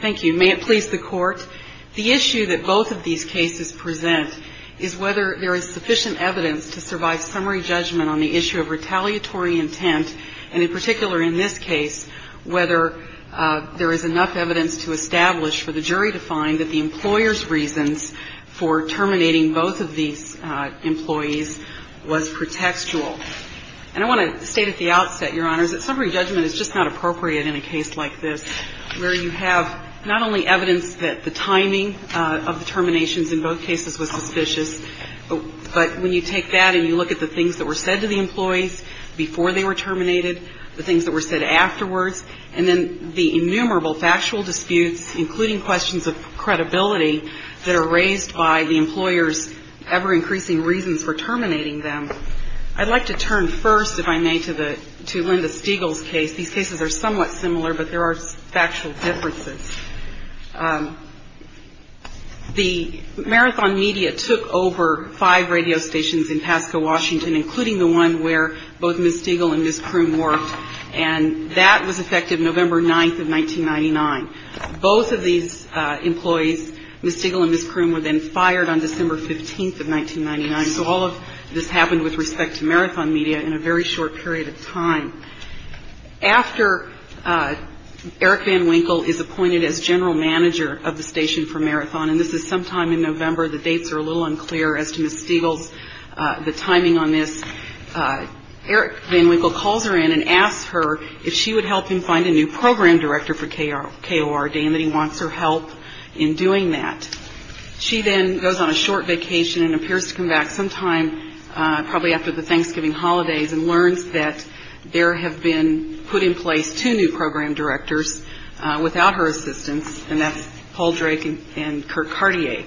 Thank you. May it please the Court, the issue that both of these cases present is whether there is sufficient evidence to survive summary judgment on the issue of retaliatory intent, and in particular in this case, whether there is enough evidence to establish for the jury to find that the employer's reasons for terminating both of these employees was pretextual. And I want to state at the outset, Your Honors, that summary judgment is just not appropriate in a case like this, where you have not only evidence that the timing of the terminations in both cases was suspicious, but when you take that and you look at the things that were said to the employees before they were terminated, the things that were said afterwards, and then the innumerable factual disputes, including questions of credibility, that are raised by the employer's ever-increasing reasons for terminating them. I'd like to turn first, if I may, to Linda Stegall's case. These cases are somewhat similar, but there are factual differences. The Marathon Media took over five radio stations in Pasco, Washington, including the one where both Ms. Stegall and Ms. Kroom worked, and that was effective November 9th of 1999. Both of these employees, Ms. Stegall and Ms. Kroom, were then fired on December 15th of 1999, so all of this happened with respect to Marathon Media in a very short period of time. After Eric Van Winkle is appointed as general manager of the station for Marathon, and this is sometime in November, the dates are a little unclear as to Ms. Stegall's timing on this, Eric Van Winkle calls her in and asks her if she would help him find a new program director for KORD, and that he wants her help in doing that. She then goes on a short vacation and appears to come back sometime probably after the Thanksgiving holidays and learns that there have been put in place two new program directors without her assistance, and that's Paul Drake and Kurt Cartier.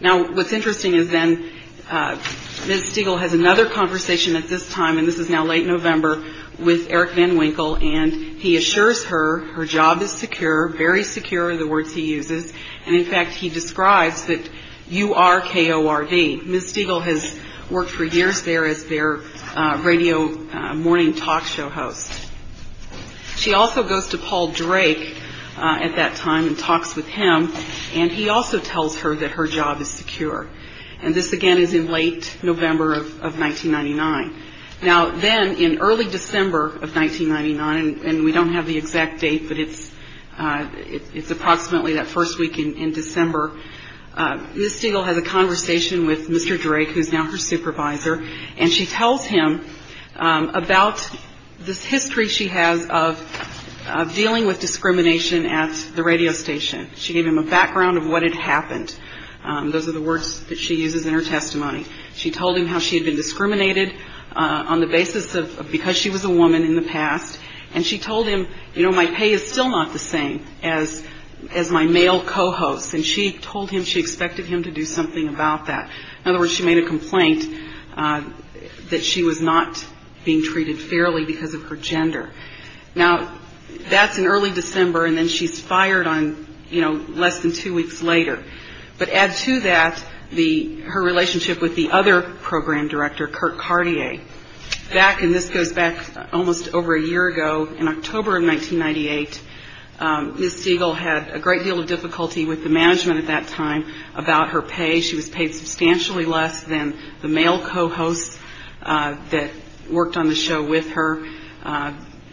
Now, what's interesting is then Ms. Stegall has another conversation at this time, and this is now late November, with Eric Van Winkle, and he assures her her job is secure, very secure are the words he uses, and in fact he describes that you are KORD. Ms. Stegall has worked for years there as their radio morning talk show host. She also goes to Paul Drake at that time and talks with him, and he also tells her that her job is secure, and this again is in late November of 1999. Now, then in early December of 1999, and we don't have the exact date, but it's approximately that first week in December, Ms. Stegall has a conversation with Mr. Drake, who is now her supervisor, and she tells him about this history she has of dealing with discrimination at the radio station. She gave him a background of what had happened. Those are the words that she uses in her testimony. She told him how she had been discriminated on the basis of because she was a woman in the past, and she told him, you know, my pay is still not the same as my male co-hosts, and she told him she expected him to do something about that. In other words, she made a complaint that she was not being treated fairly because of her gender. Now, that's in early December, and then she's fired on, you know, less than two weeks later. But add to that her relationship with the other program director, Kirk Cartier. Back, and this goes back almost over a year ago, in October of 1998, Ms. Stegall had a great deal of difficulty with the management at that time about her pay. She was paid substantially less than the male co-hosts that worked on the show with her.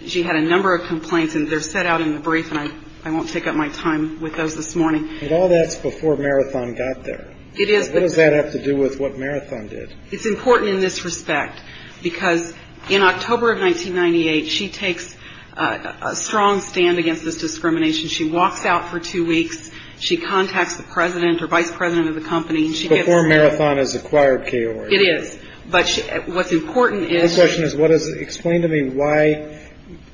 She had a number of complaints, and they're set out in the brief, and I won't take up my time with those this morning. But all that's before Marathon got there. It is. What does that have to do with what Marathon did? It's important in this respect because in October of 1998, she takes a strong stand against this discrimination. She walks out for two weeks. She contacts the president or vice president of the company. Before Marathon has acquired KOR. It is. But what's important is. My question is, explain to me why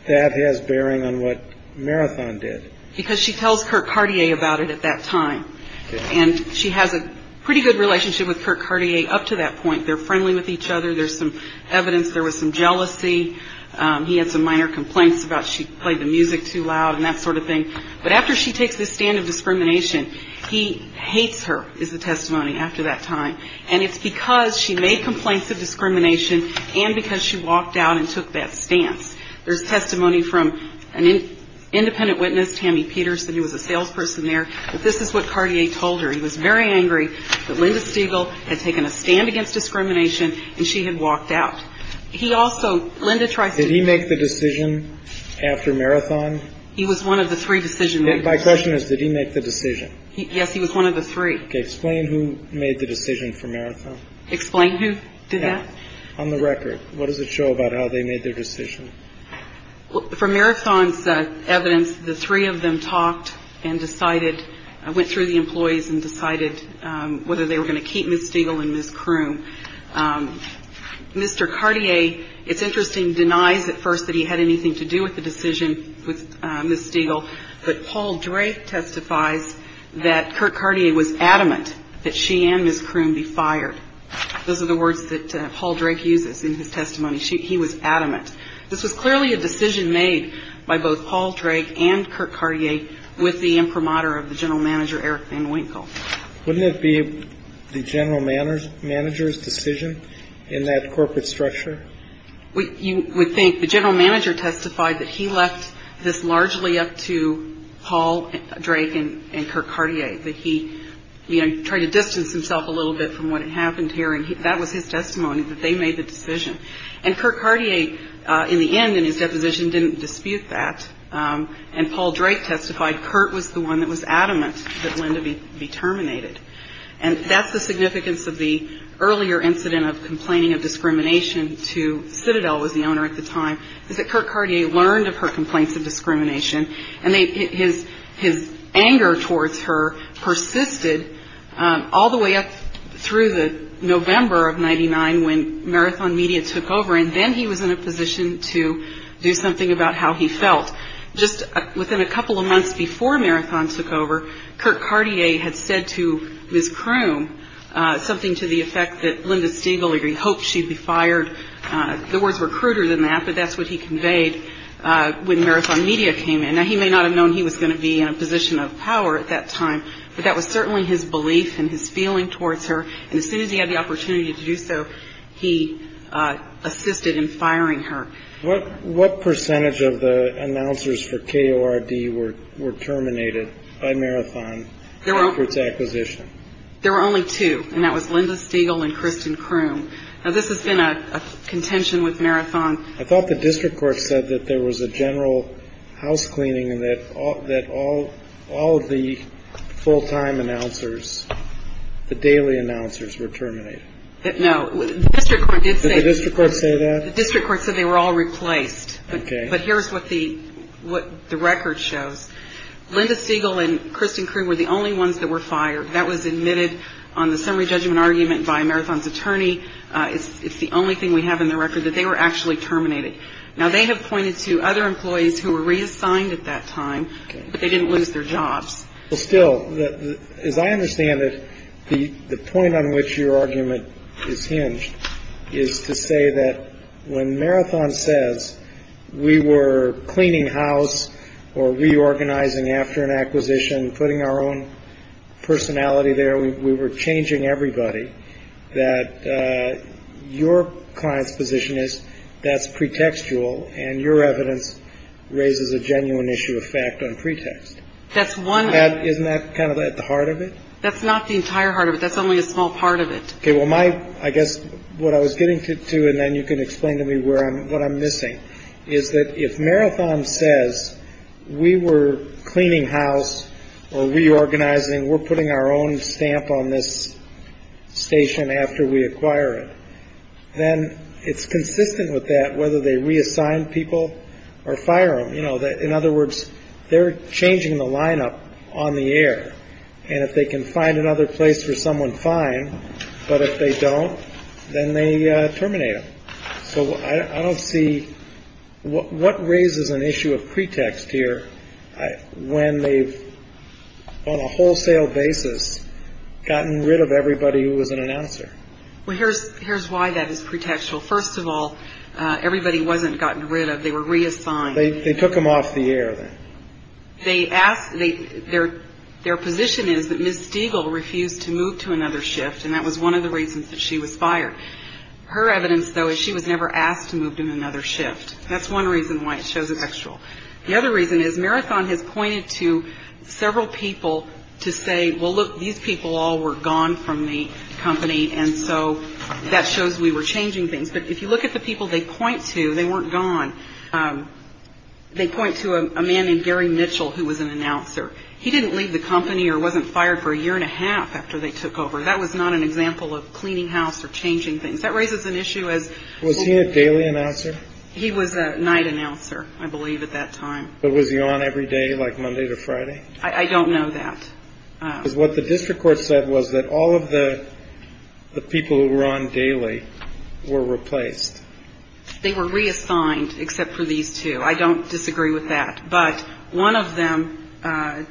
that has bearing on what Marathon did. Because she tells Kirk Cartier about it at that time. And she has a pretty good relationship with Kirk Cartier up to that point. They're friendly with each other. There's some evidence there was some jealousy. He had some minor complaints about she played the music too loud and that sort of thing. But after she takes this stand of discrimination, he hates her is the testimony after that time. And it's because she made complaints of discrimination and because she walked out and took that stance. There's testimony from an independent witness, Tammy Peterson, who was a salesperson there. But this is what Cartier told her. He was very angry that Linda Stiegel had taken a stand against discrimination and she had walked out. He also Linda tries. Did he make the decision after Marathon? He was one of the three decision. My question is, did he make the decision? Yes, he was one of the three. Explain who made the decision for Marathon. Explain who did that. On the record, what does it show about how they made their decision? For Marathon's evidence, the three of them talked and decided, went through the employees and decided whether they were going to keep Ms. Stiegel and Ms. Croom. Mr. Cartier, it's interesting, denies at first that he had anything to do with the decision with Ms. Stiegel. But Paul Drake testifies that Kirk Cartier was adamant that she and Ms. Croom be fired. Those are the words that Paul Drake uses in his testimony. He was adamant. This was clearly a decision made by both Paul Drake and Kirk Cartier with the imprimatur of the general manager, Eric Van Winkle. Wouldn't it be the general manager's decision in that corporate structure? You would think the general manager testified that he left this largely up to Paul Drake and Kirk Cartier, that he tried to distance himself a little bit from what had happened here. And that was his testimony, that they made the decision. And Kirk Cartier, in the end, in his deposition, didn't dispute that. And Paul Drake testified Kirk was the one that was adamant that Linda be terminated. And that's the significance of the earlier incident of complaining of discrimination to Citadel, was the owner at the time, is that Kirk Cartier learned of her complaints of discrimination and his anger towards her persisted all the way up through the November of 99 when Marathon Media took over. And then he was in a position to do something about how he felt. Just within a couple of months before Marathon took over, Kirk Cartier had said to Ms. Croom something to the effect that Linda Stiegel, he hoped she'd be fired. The words were cruder than that, but that's what he conveyed when Marathon Media came in. Now, he may not have known he was going to be in a position of power at that time, but that was certainly his belief and his feeling towards her. And as soon as he had the opportunity to do so, he assisted in firing her. What percentage of the announcers for KORD were terminated by Marathon after its acquisition? There were only two, and that was Linda Stiegel and Kristen Croom. Now, this has been a contention with Marathon. I thought the district court said that there was a general house cleaning and that all of the full-time announcers, the daily announcers, were terminated. No. Did the district court say that? The district court said they were all replaced. Okay. But here's what the record shows. Linda Stiegel and Kristen Croom were the only ones that were fired. That was admitted on the summary judgment argument by Marathon's attorney. It's the only thing we have in the record that they were actually terminated. Now, they have pointed to other employees who were reassigned at that time, but they didn't lose their jobs. Well, still, as I understand it, the point on which your argument is hinged is to say that when Marathon says we were cleaning house or reorganizing after an acquisition, putting our own personality there, we were changing everybody, that your client's position is that's pretextual, and your evidence raises a genuine issue of fact on pretext. Isn't that kind of at the heart of it? That's not the entire heart of it. That's only a small part of it. Well, my I guess what I was getting to, and then you can explain to me where I'm what I'm missing, is that if Marathon says we were cleaning house or reorganizing, we're putting our own stamp on this station after we acquire it, then it's consistent with that whether they reassign people or fire them. In other words, they're changing the lineup on the air. And if they can find another place for someone, fine. But if they don't, then they terminate them. So I don't see what raises an issue of pretext here when they've on a wholesale basis gotten rid of everybody who was an announcer. Well, here's here's why that is pretextual. First of all, everybody wasn't gotten rid of. They were reassigned. They took them off the air. They asked their their position is that Miss Stigall refused to move to another shift. And that was one of the reasons that she was fired. Her evidence, though, is she was never asked to move to another shift. That's one reason why it shows a textual. The other reason is Marathon has pointed to several people to say, well, look, these people all were gone from the company. And so that shows we were changing things. But if you look at the people they point to, they weren't gone. They point to a man named Gary Mitchell, who was an announcer. He didn't leave the company or wasn't fired for a year and a half after they took over. That was not an example of cleaning house or changing things. That raises an issue as was he a daily announcer. He was a night announcer, I believe, at that time. But was he on every day like Monday to Friday? I don't know that. What the district court said was that all of the people who were on daily were replaced. They were reassigned except for these two. I don't disagree with that. But one of them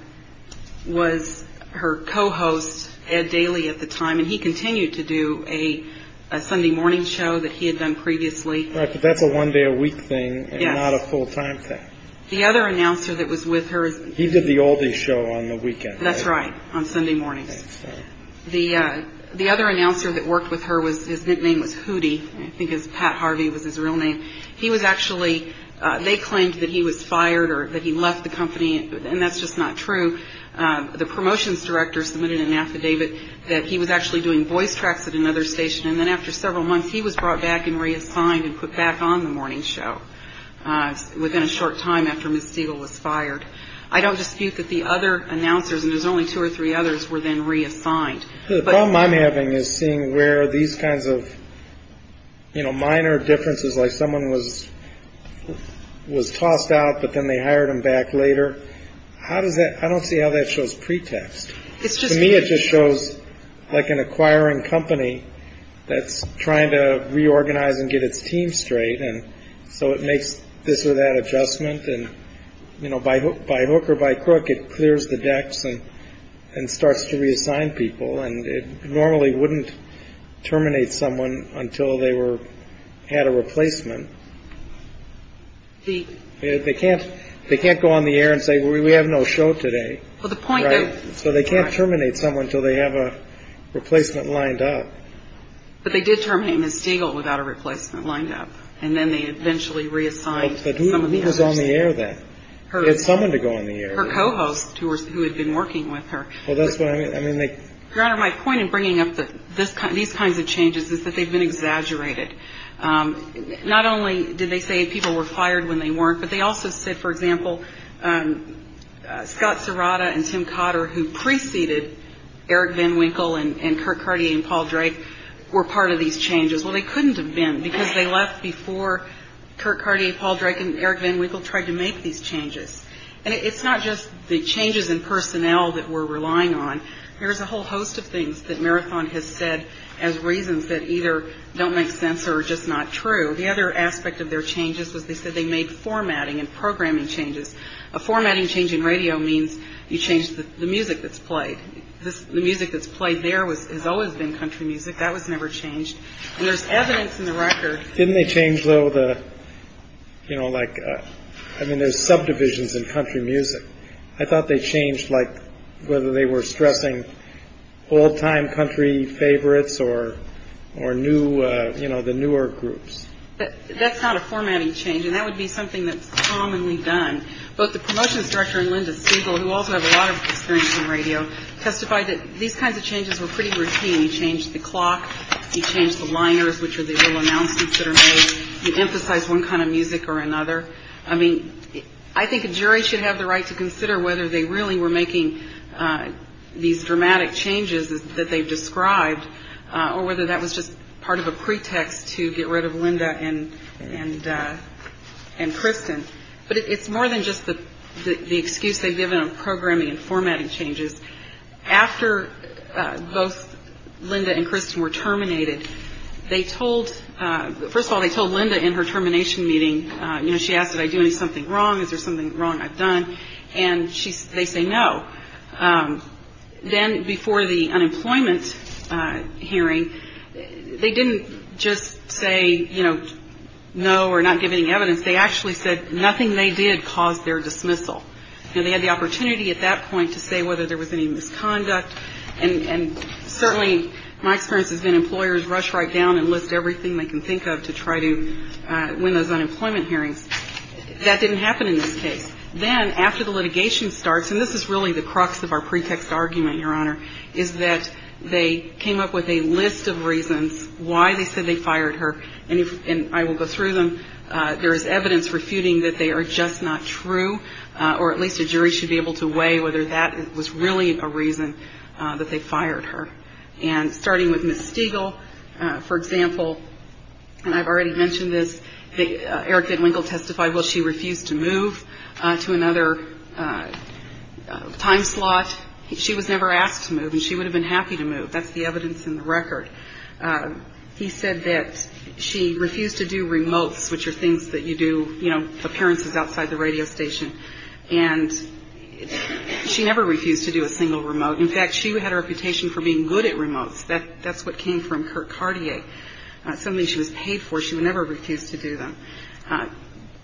was her co-host, Ed Daly, at the time. And he continued to do a Sunday morning show that he had done previously. But that's a one day a week thing, not a full time thing. The other announcer that was with her. He did the all day show on the weekend. That's right. On Sunday mornings. The other announcer that worked with her, his nickname was Hootie. I think Pat Harvey was his real name. He was actually, they claimed that he was fired or that he left the company. And that's just not true. The promotions director submitted an affidavit that he was actually doing voice tracks at another station. And then after several months, he was brought back and reassigned and put back on the morning show. Within a short time after Ms. Siegel was fired. I don't dispute that the other announcers, and there's only two or three others, were then reassigned. The problem I'm having is seeing where these kinds of minor differences, like someone was was tossed out, but then they hired him back later. How does that I don't see how that shows pretext. It's just me. It just shows like an acquiring company that's trying to reorganize and get its team straight. And so it makes this or that adjustment. And, you know, by hook by hook or by crook, it clears the decks and and starts to reassign people. And it normally wouldn't terminate someone until they were had a replacement. They can't they can't go on the air and say, we have no show today. Well, the point is, so they can't terminate someone until they have a replacement lined up. But they did terminate Ms. Siegel without a replacement lined up. And then they eventually reassigned. But who was on the air that someone to go on the air. Her co-hosts who had been working with her. Well, that's what I mean. Your Honor, my point in bringing up these kinds of changes is that they've been exaggerated. Not only did they say people were fired when they weren't, but they also said, for example, Scott Serrata and Tim Cotter, who preceded Eric Van Winkle and Kirk Cartier and Paul Drake, were part of these changes. Well, they couldn't have been because they left before Kirk Cartier, Paul Drake and Eric Van Winkle tried to make these changes. And it's not just the changes in personnel that we're relying on. There is a whole host of things that Marathon has said as reasons that either don't make sense or just not true. The other aspect of their changes was they said they made formatting and programming changes. A formatting change in radio means you change the music that's played. The music that's played there was has always been country music. That was never changed. There's evidence in the record. Didn't they change, though, the you know, like I mean, there's subdivisions in country music. I thought they changed, like whether they were stressing all time country favorites or or new, you know, the newer groups. But that's not a formatting change. And that would be something that's commonly done. But the promotion structure and Linda Siegel, who also have a lot of experience in radio, testified that these kinds of changes were pretty routine. He changed the clock. He changed the liners, which are the announcements that are made. He emphasized one kind of music or another. I mean, I think a jury should have the right to consider whether they really were making these dramatic changes that they've described or whether that was just part of a pretext to get rid of Linda and and and Kristen. But it's more than just the excuse they've given on programming and formatting changes. After both Linda and Kristen were terminated, they told first of all, they told Linda in her termination meeting. You know, she asked, did I do something wrong? Is there something wrong I've done? And she they say no. Then before the unemployment hearing, they didn't just say, you know, no, we're not giving evidence. They actually said nothing they did caused their dismissal. And they had the opportunity at that point to say whether there was any misconduct. And certainly my experience has been employers rush right down and list everything they can think of to try to win those unemployment hearings. That didn't happen in this case. Then after the litigation starts, and this is really the crux of our pretext argument, Your Honor, is that they came up with a list of reasons why they said they fired her. And I will go through them. There is evidence refuting that they are just not true, or at least a jury should be able to weigh whether that was really a reason that they fired her. And starting with Miss Stiegel, for example, and I've already mentioned this, Erica Winkle testified, well, she refused to move to another time slot. She was never asked to move and she would have been happy to move. That's the evidence in the record. He said that she refused to do remotes, which are things that you do, you know, appearances outside the radio station. And she never refused to do a single remote. In fact, she had a reputation for being good at remotes. That's what came from her Cartier, something she was paid for. She would never refuse to do them.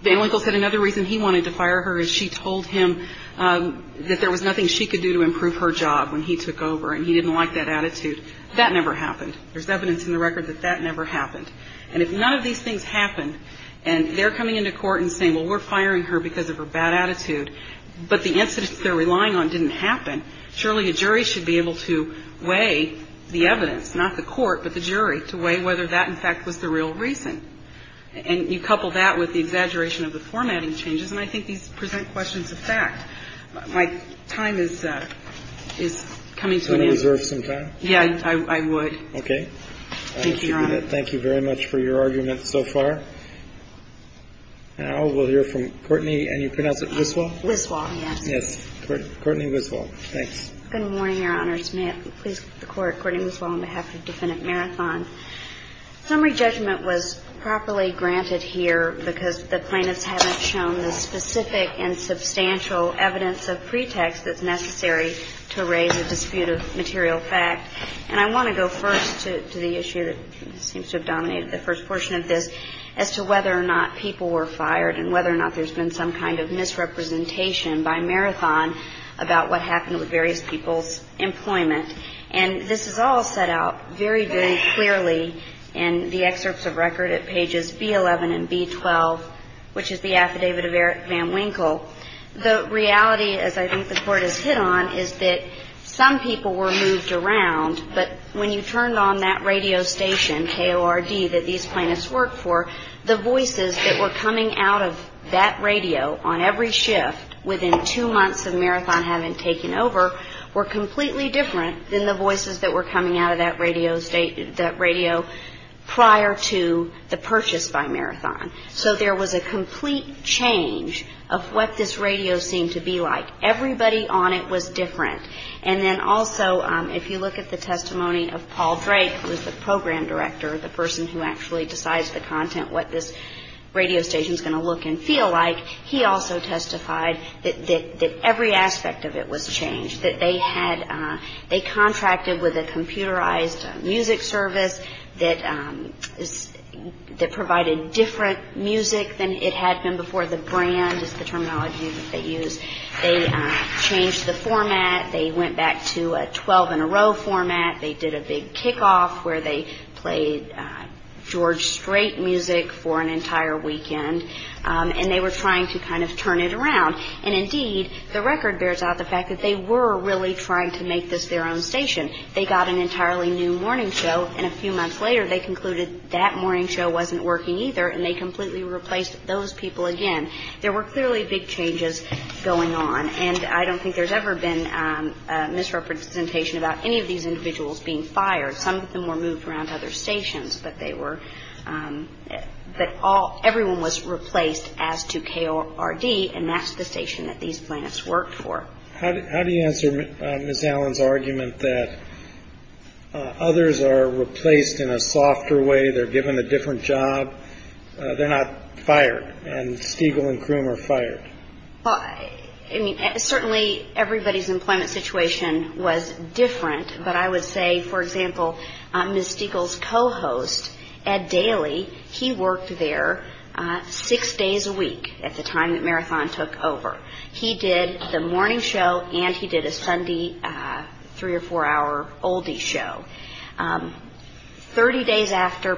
Van Winkle said another reason he wanted to fire her is she told him that there was nothing she could do to improve her job when he took over. And he didn't like that attitude. That never happened. There's evidence in the record that that never happened. And if none of these things happened and they're coming into court and saying, well, we're firing her because of her bad attitude, but the incidents they're relying on didn't happen, surely a jury should be able to weigh the evidence, not the court, but the jury, to weigh whether that, in fact, was the real reason. And you couple that with the exaggeration of the formatting changes. And I think these present questions of fact. My time is coming to an end. Can you reserve some time? Yeah, I would. Okay. Thank you, Your Honor. Thank you very much for your argument so far. Now we'll hear from Courtney. And you pronounce it Wislaw? Wislaw, yes. Yes. Courtney Wislaw. Thanks. Good morning, Your Honors. May it please the Court. Courtney Wislaw on behalf of Defendant Marathon. Summary judgment was properly granted here because the plaintiffs haven't shown the specific and substantial evidence of pretext that's necessary to raise a dispute of material fact. And I want to go first to the issue that seems to have dominated the first portion of this, as to whether or not people were fired and whether or not there's been some kind of misrepresentation by Marathon about what happened with various people's employment. And this is all set out very, very clearly in the excerpts of record at pages B-11 and B-12, which is the affidavit of Van Winkle. The reality, as I think the Court has hit on, is that some people were moved around, but when you turned on that radio station, KORD, that these plaintiffs worked for, the voices that were coming out of that radio on every shift within two months of Marathon having taken over were completely different than the voices that were coming out of that radio prior to the purchase by Marathon. So there was a complete change of what this radio seemed to be like. Everybody on it was different. And then also, if you look at the testimony of Paul Drake, who is the program director, the person who actually decides the content, what this radio station is going to look and feel like, he also testified that every aspect of it was changed, that they contracted with a computerized music service that provided different music than it had been before. The brand is the terminology that they used. They changed the format. They went back to a 12-in-a-row format. They did a big kickoff where they played George Strait music for an entire weekend. And they were trying to kind of turn it around. And indeed, the record bears out the fact that they were really trying to make this their own station. They got an entirely new morning show, and a few months later, they concluded that morning show wasn't working either, and they completely replaced those people again. There were clearly big changes going on. And I don't think there's ever been misrepresentation about any of these individuals being fired. Some of them were moved around to other stations, but everyone was replaced as to KORD, and that's the station that these planets worked for. How do you answer Ms. Allen's argument that others are replaced in a softer way, they're given a different job, they're not fired, and Stiegel and Croom are fired? I mean, certainly everybody's employment situation was different, but I would say, for example, Ms. Stiegel's co-host, Ed Daly, he worked there six days a week at the time that Marathon took over. He did the morning show, and he did a Sunday three- or four-hour oldie show. Thirty days after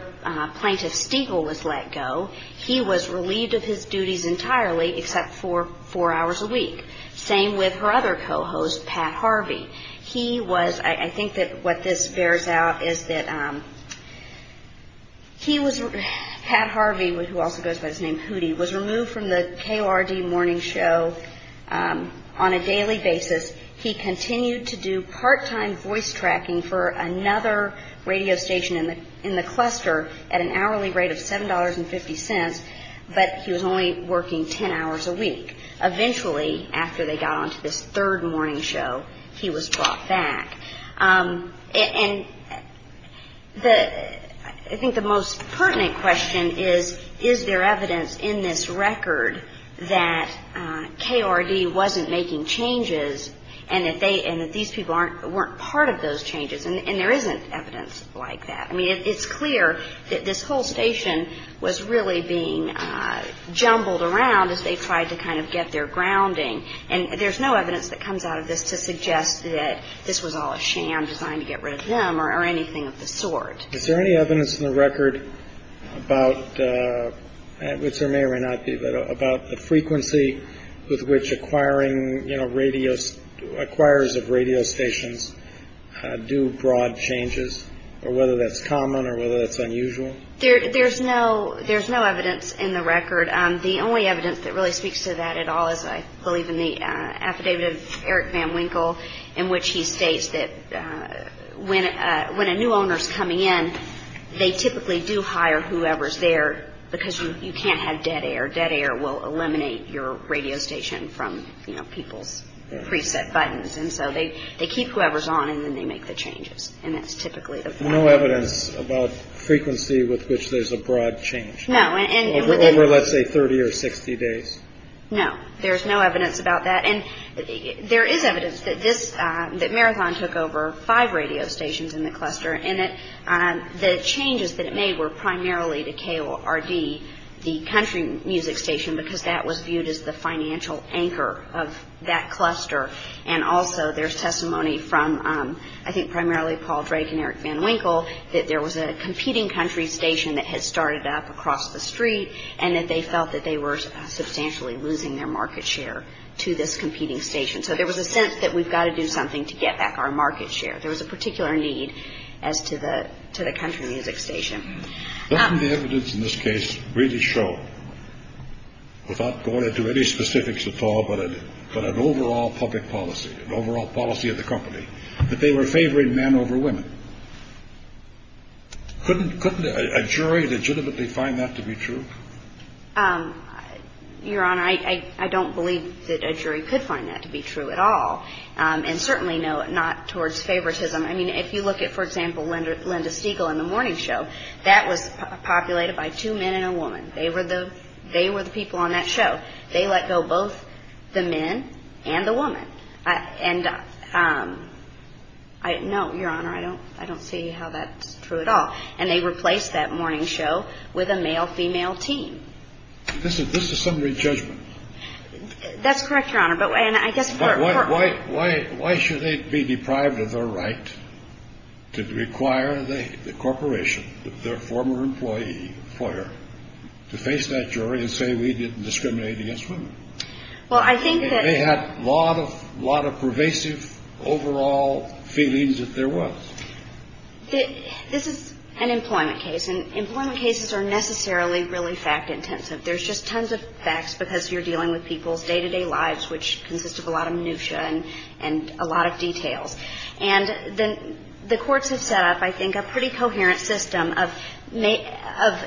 Plaintiff Stiegel was let go, he was relieved of his duties entirely, except for four hours a week. Same with her other co-host, Pat Harvey. He was, I think that what this bears out is that he was, Pat Harvey, who also goes by his name, Hootie, was removed from the KORD morning show on a daily basis. He continued to do part-time voice tracking for another radio station in the cluster at an hourly rate of $7.50, but he was only working ten hours a week. Eventually, after they got onto this third morning show, he was brought back. And I think the most pertinent question is, is there evidence in this record that KORD wasn't making changes and that these people weren't part of those changes? And there isn't evidence like that. I mean, it's clear that this whole station was really being jumbled around as they tried to kind of get their grounding. And there's no evidence that comes out of this to suggest that this was all a sham designed to get rid of them or anything of the sort. Is there any evidence in the record about, which there may or may not be, about the frequency with which acquirers of radio stations do broad changes, or whether that's common or whether that's unusual? There's no evidence in the record. The only evidence that really speaks to that at all is, I believe, in the affidavit of Eric Van Winkle, in which he states that when a new owner is coming in, they typically do hire whoever's there because you can't have dead air. Dead air will eliminate your radio station from people's preset buttons. And so they keep whoever's on, and then they make the changes. And that's typically the problem. No evidence about frequency with which there's a broad change? No. Over, let's say, 30 or 60 days? No. There's no evidence about that. And there is evidence that Marathon took over five radio stations in the cluster and that the changes that it made were primarily to KORD, the country music station, because that was viewed as the financial anchor of that cluster. And also there's testimony from, I think, primarily Paul Drake and Eric Van Winkle, that there was a competing country station that had started up across the street and that they felt that they were substantially losing their market share to this competing station. So there was a sense that we've got to do something to get back our market share. There was a particular need as to the country music station. Didn't the evidence in this case really show, without going into any specifics at all, but an overall public policy, an overall policy of the company, that they were favoring men over women? Couldn't a jury legitimately find that to be true? Your Honor, I don't believe that a jury could find that to be true at all, and certainly not towards favoritism. I mean, if you look at, for example, Linda Stiegel in the morning show, that was populated by two men and a woman. They were the people on that show. They let go both the men and the woman. And no, Your Honor, I don't see how that's true at all. And they replaced that morning show with a male-female team. This is summary judgment. That's correct, Your Honor. But why should they be deprived of their right to require the corporation, their former employee, FOIA, to face that jury and say we didn't discriminate against women? They had a lot of pervasive overall feelings that there was. This is an employment case, and employment cases are necessarily really fact-intensive. There's just tons of facts because you're dealing with people's day-to-day lives, which consist of a lot of minutia and a lot of details. And the courts have set up, I think, a pretty coherent system of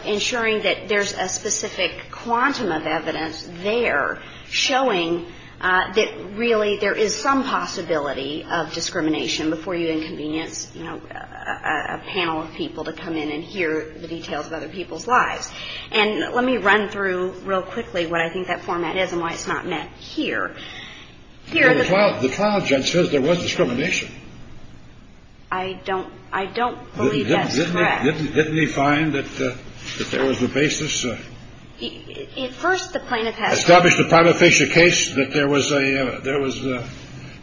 ensuring that there's a specific quantum of evidence there showing that really there is some possibility of discrimination before you inconvenience, you know, a panel of people to come in and hear the details of other people's lives. And let me run through real quickly what I think that format is and why it's not met here. The trial judge says there was discrimination. I don't believe that's correct. Didn't he find that there was a basis? At first, the plaintiff has established a prima facie case that there was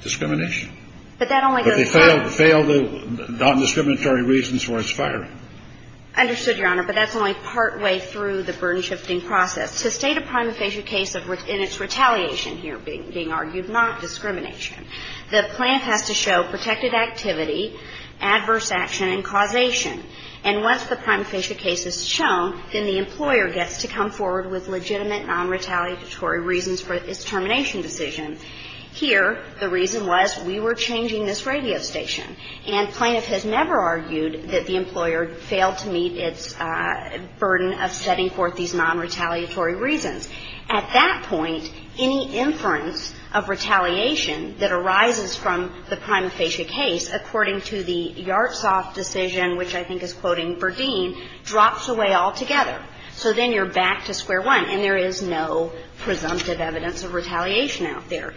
discrimination. But that only goes far. But they failed the non-discriminatory reasons for his firing. Understood, Your Honor. But that's only partway through the burden-shifting process. To state a prima facie case in its retaliation here, being argued not discrimination, the plaintiff has to show protected activity, adverse action and causation. And once the prima facie case is shown, then the employer gets to come forward with legitimate non-retaliatory reasons for its termination decision. Here, the reason was we were changing this radio station. And plaintiff has never argued that the employer failed to meet its burden of setting forth these non-retaliatory reasons. At that point, any inference of retaliation that arises from the prima facie case, according to the Yartsoff decision, which I think is quoting Verdeen, drops away altogether. So then you're back to square one, and there is no presumptive evidence of retaliation out there.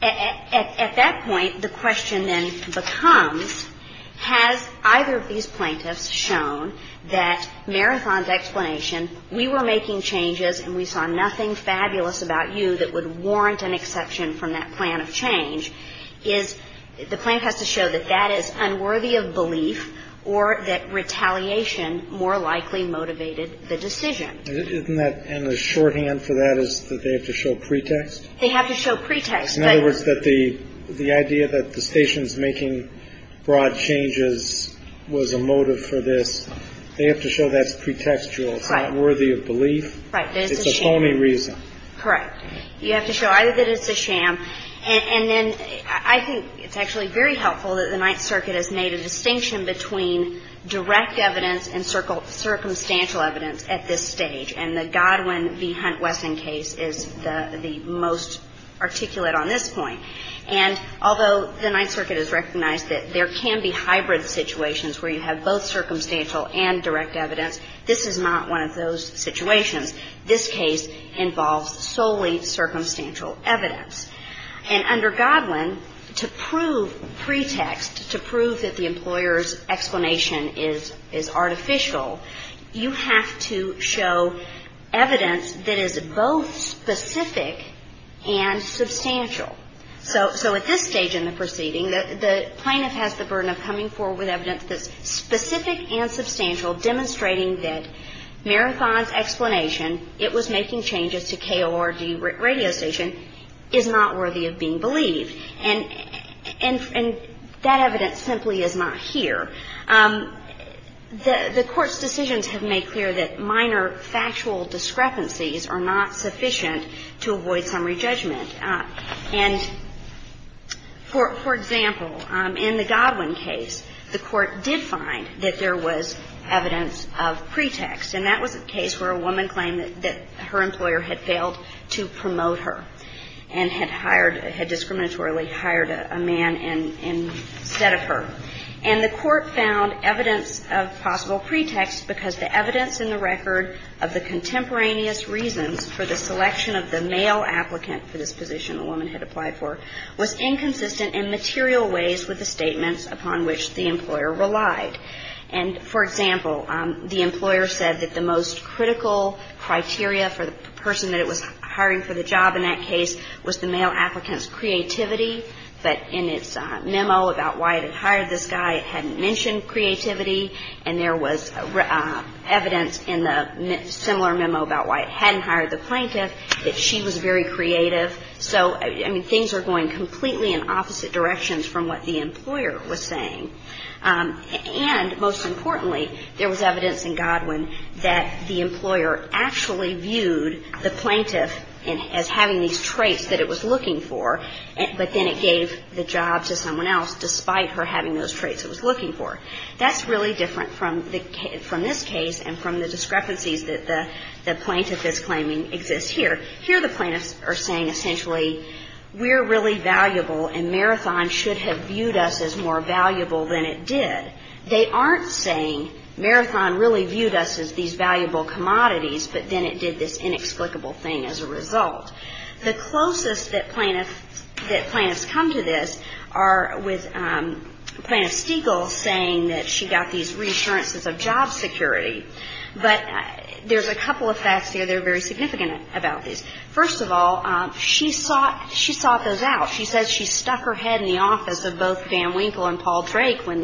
At that point, the question then becomes, has either of these plaintiffs shown that Marathon's explanation, we were making changes and we saw nothing fabulous about you that would warrant an exception from that plan of change, is the plaintiff has to show that that is unworthy of belief or that retaliation more likely motivated the decision. And the shorthand for that is that they have to show pretext? They have to show pretext. In other words, that the idea that the station's making broad changes was a motive for this, they have to show that's pretextual. It's not worthy of belief. Right. It's a phony reason. Correct. You have to show either that it's a sham. And then I think it's actually very helpful that the Ninth Circuit has made a distinction between direct evidence and circumstantial evidence at this stage. And the Godwin v. Hunt-Wesson case is the most articulate on this point. And although the Ninth Circuit has recognized that there can be hybrid situations where you have both circumstantial and direct evidence, this is not one of those situations. This case involves solely circumstantial evidence. And under Godwin, to prove pretext, to prove that the employer's explanation is artificial, you have to show evidence that is both specific and substantial. So at this stage in the proceeding, the plaintiff has the burden of coming forward with evidence that's specific and substantial, demonstrating that Marathon's explanation, it was making changes to KORG radio station, is not worthy of being believed. And that evidence simply is not here. The Court's decisions have made clear that minor factual discrepancies are not sufficient to avoid summary judgment. And, for example, in the Godwin case, the Court did find that there was evidence of pretext. And that was a case where a woman claimed that her employer had failed to promote her and had hired, had discriminatorily hired a man instead of her. And the Court found evidence of possible pretext because the evidence in the record of the contemporaneous reasons for the selection of the male applicant for this position the woman had applied for was inconsistent in material ways with the statements upon which the employer relied. And, for example, the employer said that the most critical criteria for the person that it was hiring for the job in that case was the male applicant's creativity, but in its memo about why it had hired this guy it hadn't mentioned creativity. And there was evidence in the similar memo about why it hadn't hired the plaintiff that she was very creative. So, I mean, things are going completely in opposite directions from what the employer was saying. And, most importantly, there was evidence in Godwin that the employer actually viewed the plaintiff as having these traits that it was looking for, but then it gave the job to someone else despite her having those traits it was looking for. That's really different from this case and from the discrepancies that the plaintiff is claiming exists here. Here the plaintiffs are saying essentially we're really valuable and Marathon should have viewed us as more valuable than it did. They aren't saying Marathon really viewed us as these valuable commodities, but then it did this inexplicable thing as a result. The closest that plaintiffs come to this are with Plaintiff Stegall saying that she got these reassurances of job security. But there's a couple of facts here that are very significant about this. First of all, she sought those out. She says she stuck her head in the office of both Dan Winkle and Paul Drake when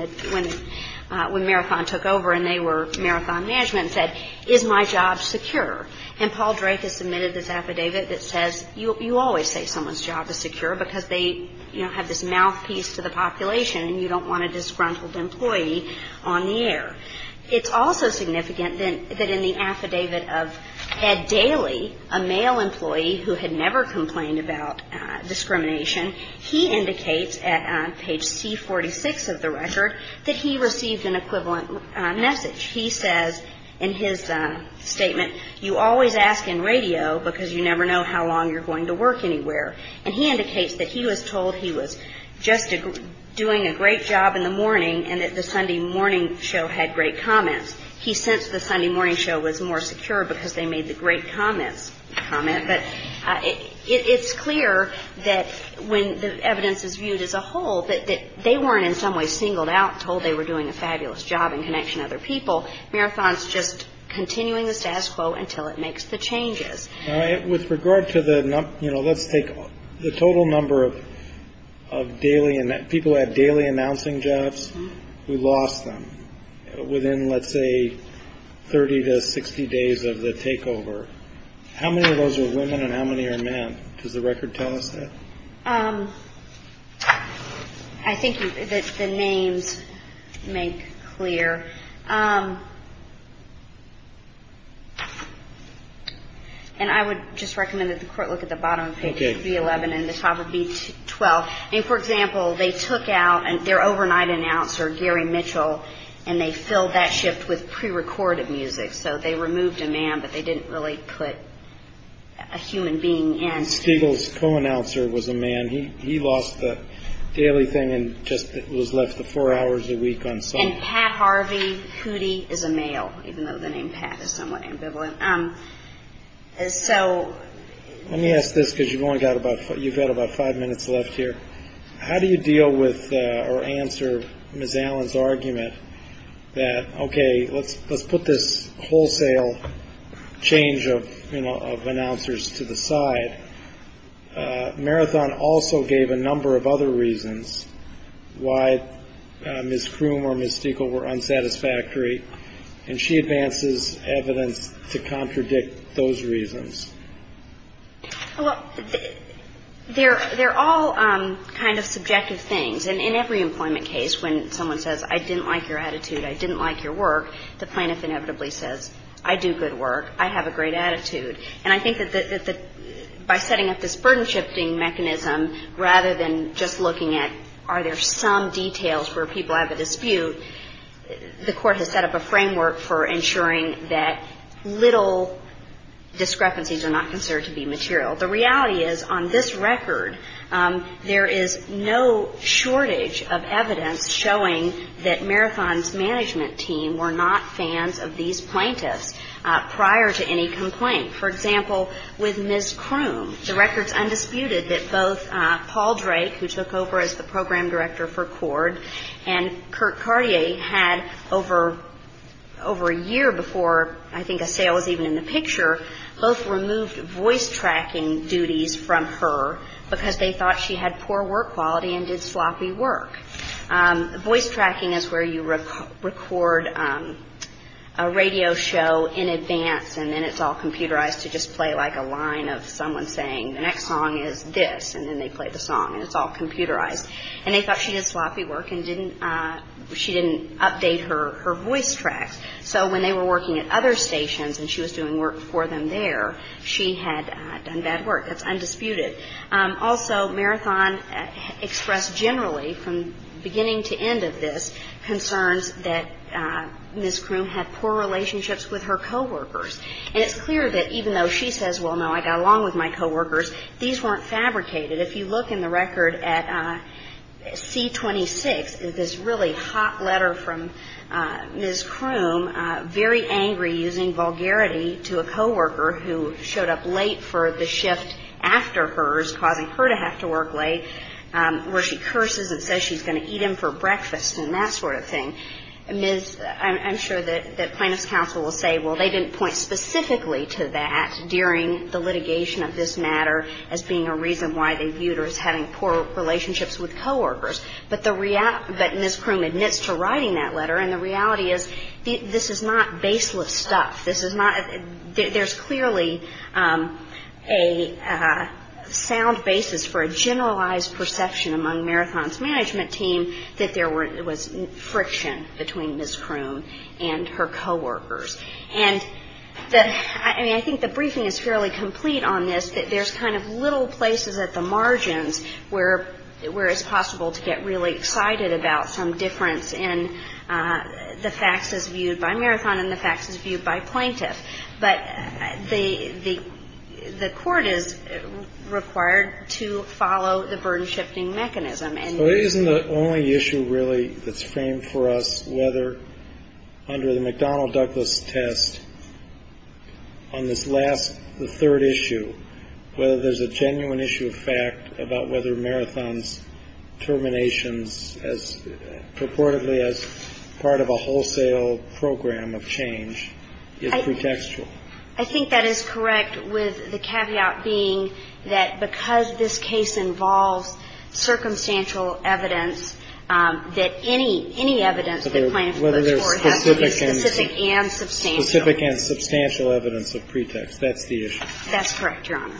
Marathon took over and they were Marathon management and said, is my job secure? And Paul Drake has submitted this affidavit that says you always say someone's job is secure because they have this mouthpiece to the population and you don't want a disgruntled employee on the air. It's also significant that in the affidavit of Ed Daly, a male employee who had never complained about discrimination, he indicates at page C46 of the record that he received an equivalent message. He says in his statement, you always ask in radio because you never know how long you're going to work anywhere. And he indicates that he was told he was just doing a great job in the morning and that the Sunday morning show had great comments. He sensed the Sunday morning show was more secure because they made the great comments comment. But it's clear that when the evidence is viewed as a whole, that they weren't in some way singled out, told they were doing a fabulous job in connection to other people. Marathon's just continuing the status quo until it makes the changes. With regard to the, you know, let's take the total number of people who had daily announcing jobs, we lost them within, let's say, 30 to 60 days of the takeover. How many of those were women and how many are men? Does the record tell us that? I think that the names make clear. And I would just recommend that the court look at the bottom of page B11 and the top of B12. For example, they took out their overnight announcer, Gary Mitchell, and they filled that shift with prerecorded music. So they removed a man, but they didn't really put a human being in. Pete Stegall's co-announcer was a man. He lost the daily thing and just was left the four hours a week on Sunday. And Pat Harvey Hootie is a male, even though the name Pat is somewhat ambivalent. So... Let me ask this because you've only got about, you've got about five minutes left here. How do you deal with or answer Ms. Allen's argument that, okay, let's put this wholesale change of announcers to the side? Marathon also gave a number of other reasons why Ms. Kroom or Ms. Stegall were unsatisfactory, and she advances evidence to contradict those reasons. Well, they're all kind of subjective things. And in every employment case when someone says, I didn't like your attitude, I didn't like your work, the plaintiff inevitably says, I do good work, I have a great attitude. And I think that by setting up this burden shifting mechanism, rather than just looking at, are there some details where people have a dispute, the court has set up a framework for ensuring that little discrepancies are not considered to be material. The reality is, on this record, there is no shortage of evidence showing that Marathon's management team were not fans of these plaintiffs prior to any complaint. For example, with Ms. Kroom, the record's undisputed that both Paul Drake, who took over as the program director for CORD, and Kurt Cartier had over a year before I think a sale was even in the picture, both removed voice tracking duties from her because they thought she had poor work quality and did sloppy work. Voice tracking is where you record a radio show in advance and then it's all computerized to just play like a line of someone saying, the next song is this, and then they play the song, and it's all computerized. And they thought she did sloppy work and she didn't update her voice tracks. So when they were working at other stations and she was doing work for them there, she had done bad work. That's undisputed. Also, Marathon expressed generally, from beginning to end of this, concerns that Ms. Kroom had poor relationships with her coworkers. And it's clear that even though she says, well, no, I got along with my coworkers, these weren't fabricated. If you look in the record at C-26, there's this really hot letter from Ms. Kroom, very angry, using vulgarity to a coworker who showed up late for the shift after hers, causing her to have to work late, where she curses and says she's going to eat him for breakfast and that sort of thing. Ms. — I'm sure that plaintiff's counsel will say, well, they didn't point specifically to that during the litigation of this matter as being a reason why they viewed her as having poor relationships with coworkers. But the — but Ms. Kroom admits to writing that letter. And the reality is this is not baseless stuff. This is not — there's clearly a sound basis for a generalized perception among Marathon's management team that there was friction between Ms. Kroom and her coworkers. And the — I mean, I think the briefing is fairly complete on this, that there's kind of little places at the margins where it's possible to get really excited about some difference in the facts as viewed by Marathon and the facts as viewed by plaintiff. But the — the court is required to follow the burden-shifting mechanism. And — So it isn't the only issue, really, that's framed for us, whether under the McDonnell-Douglas test, on this last — the third issue, whether there's a genuine issue of fact about whether Marathon's terminations as purportedly as part of a wholesale program of change is pretextual. I think that is correct, with the caveat being that because this case involves circumstantial evidence, that any — any evidence that plaintiff puts forward has to be specific and substantial. Specific and substantial evidence of pretext. That's the issue. That's correct, Your Honor.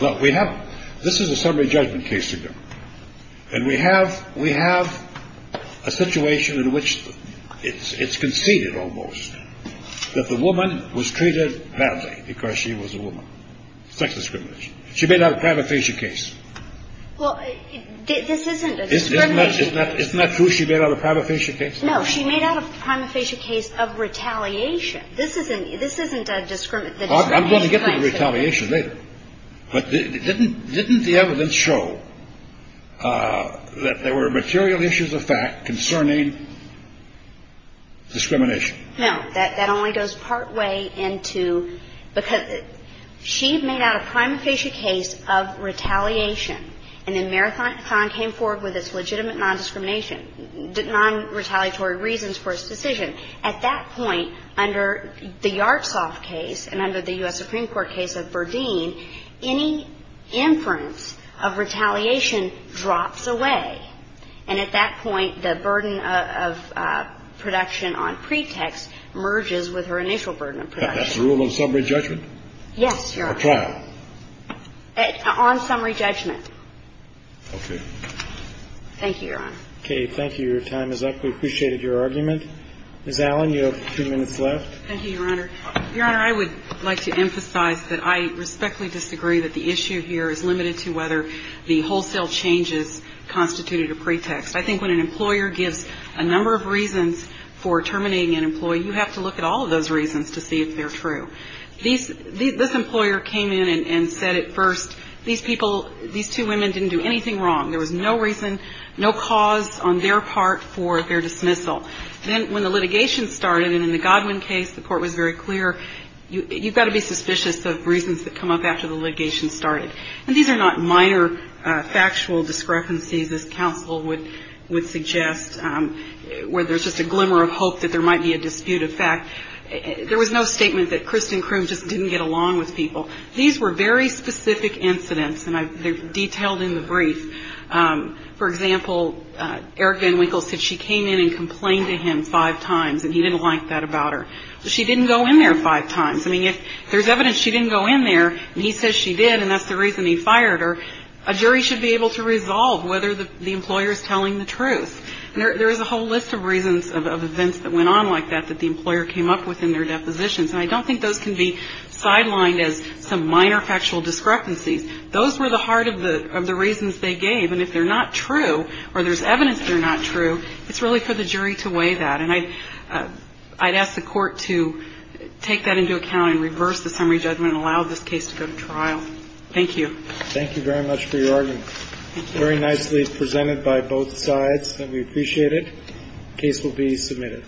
Well, we have — this is a summary judgment case, again. And we have — we have a situation in which it's — it's conceded, almost, that the woman was treated badly because she was a woman. Sex discrimination. She made out a prima facie case. Well, this isn't a discrimination — Isn't that — isn't that true? She made out a prima facie case? No, she made out a prima facie case of retaliation. This isn't — this isn't a — I'm going to get to retaliation later. But didn't — didn't the evidence show that there were material issues of fact concerning discrimination? No. That only goes partway into — because she made out a prima facie case of retaliation, and then Marathon came forward with its legitimate nondiscrimination — nonretaliatory reasons for its decision. At that point, under the Yartsov case and under the U.S. Supreme Court case of Berdeen, any inference of retaliation drops away. And at that point, the burden of production on pretext merges with her initial burden of production. That's a rule of summary judgment? Yes, Your Honor. Or trial? On summary judgment. Okay. Thank you, Your Honor. Okay. Your time is up. We appreciated your argument. Ms. Allen, you have two minutes left. Thank you, Your Honor. Your Honor, I would like to emphasize that I respectfully disagree that the issue here is limited to whether the wholesale changes constituted a pretext. I think when an employer gives a number of reasons for terminating an employee, you have to look at all of those reasons to see if they're true. These — this employer came in and said at first, these people — these two women didn't do anything wrong. There was no reason, no cause on their part for their dismissal. Then when the litigation started, and in the Godwin case, the court was very clear, you've got to be suspicious of reasons that come up after the litigation started. And these are not minor factual discrepancies, as counsel would suggest, where there's just a glimmer of hope that there might be a dispute of fact. There was no statement that Kristen Kroom just didn't get along with people. For example, Eric Van Winkle said she came in and complained to him five times and he didn't like that about her. She didn't go in there five times. I mean, if there's evidence she didn't go in there and he says she did and that's the reason he fired her, a jury should be able to resolve whether the employer is telling the truth. There is a whole list of reasons of events that went on like that that the employer came up with in their depositions. And I don't think those can be sidelined as some minor factual discrepancies. Those were the heart of the reasons they gave. And if they're not true or there's evidence they're not true, it's really for the jury to weigh that. And I'd ask the court to take that into account and reverse the summary judgment and allow this case to go to trial. Thank you. Thank you very much for your argument. Very nicely presented by both sides, and we appreciate it. The case will be submitted.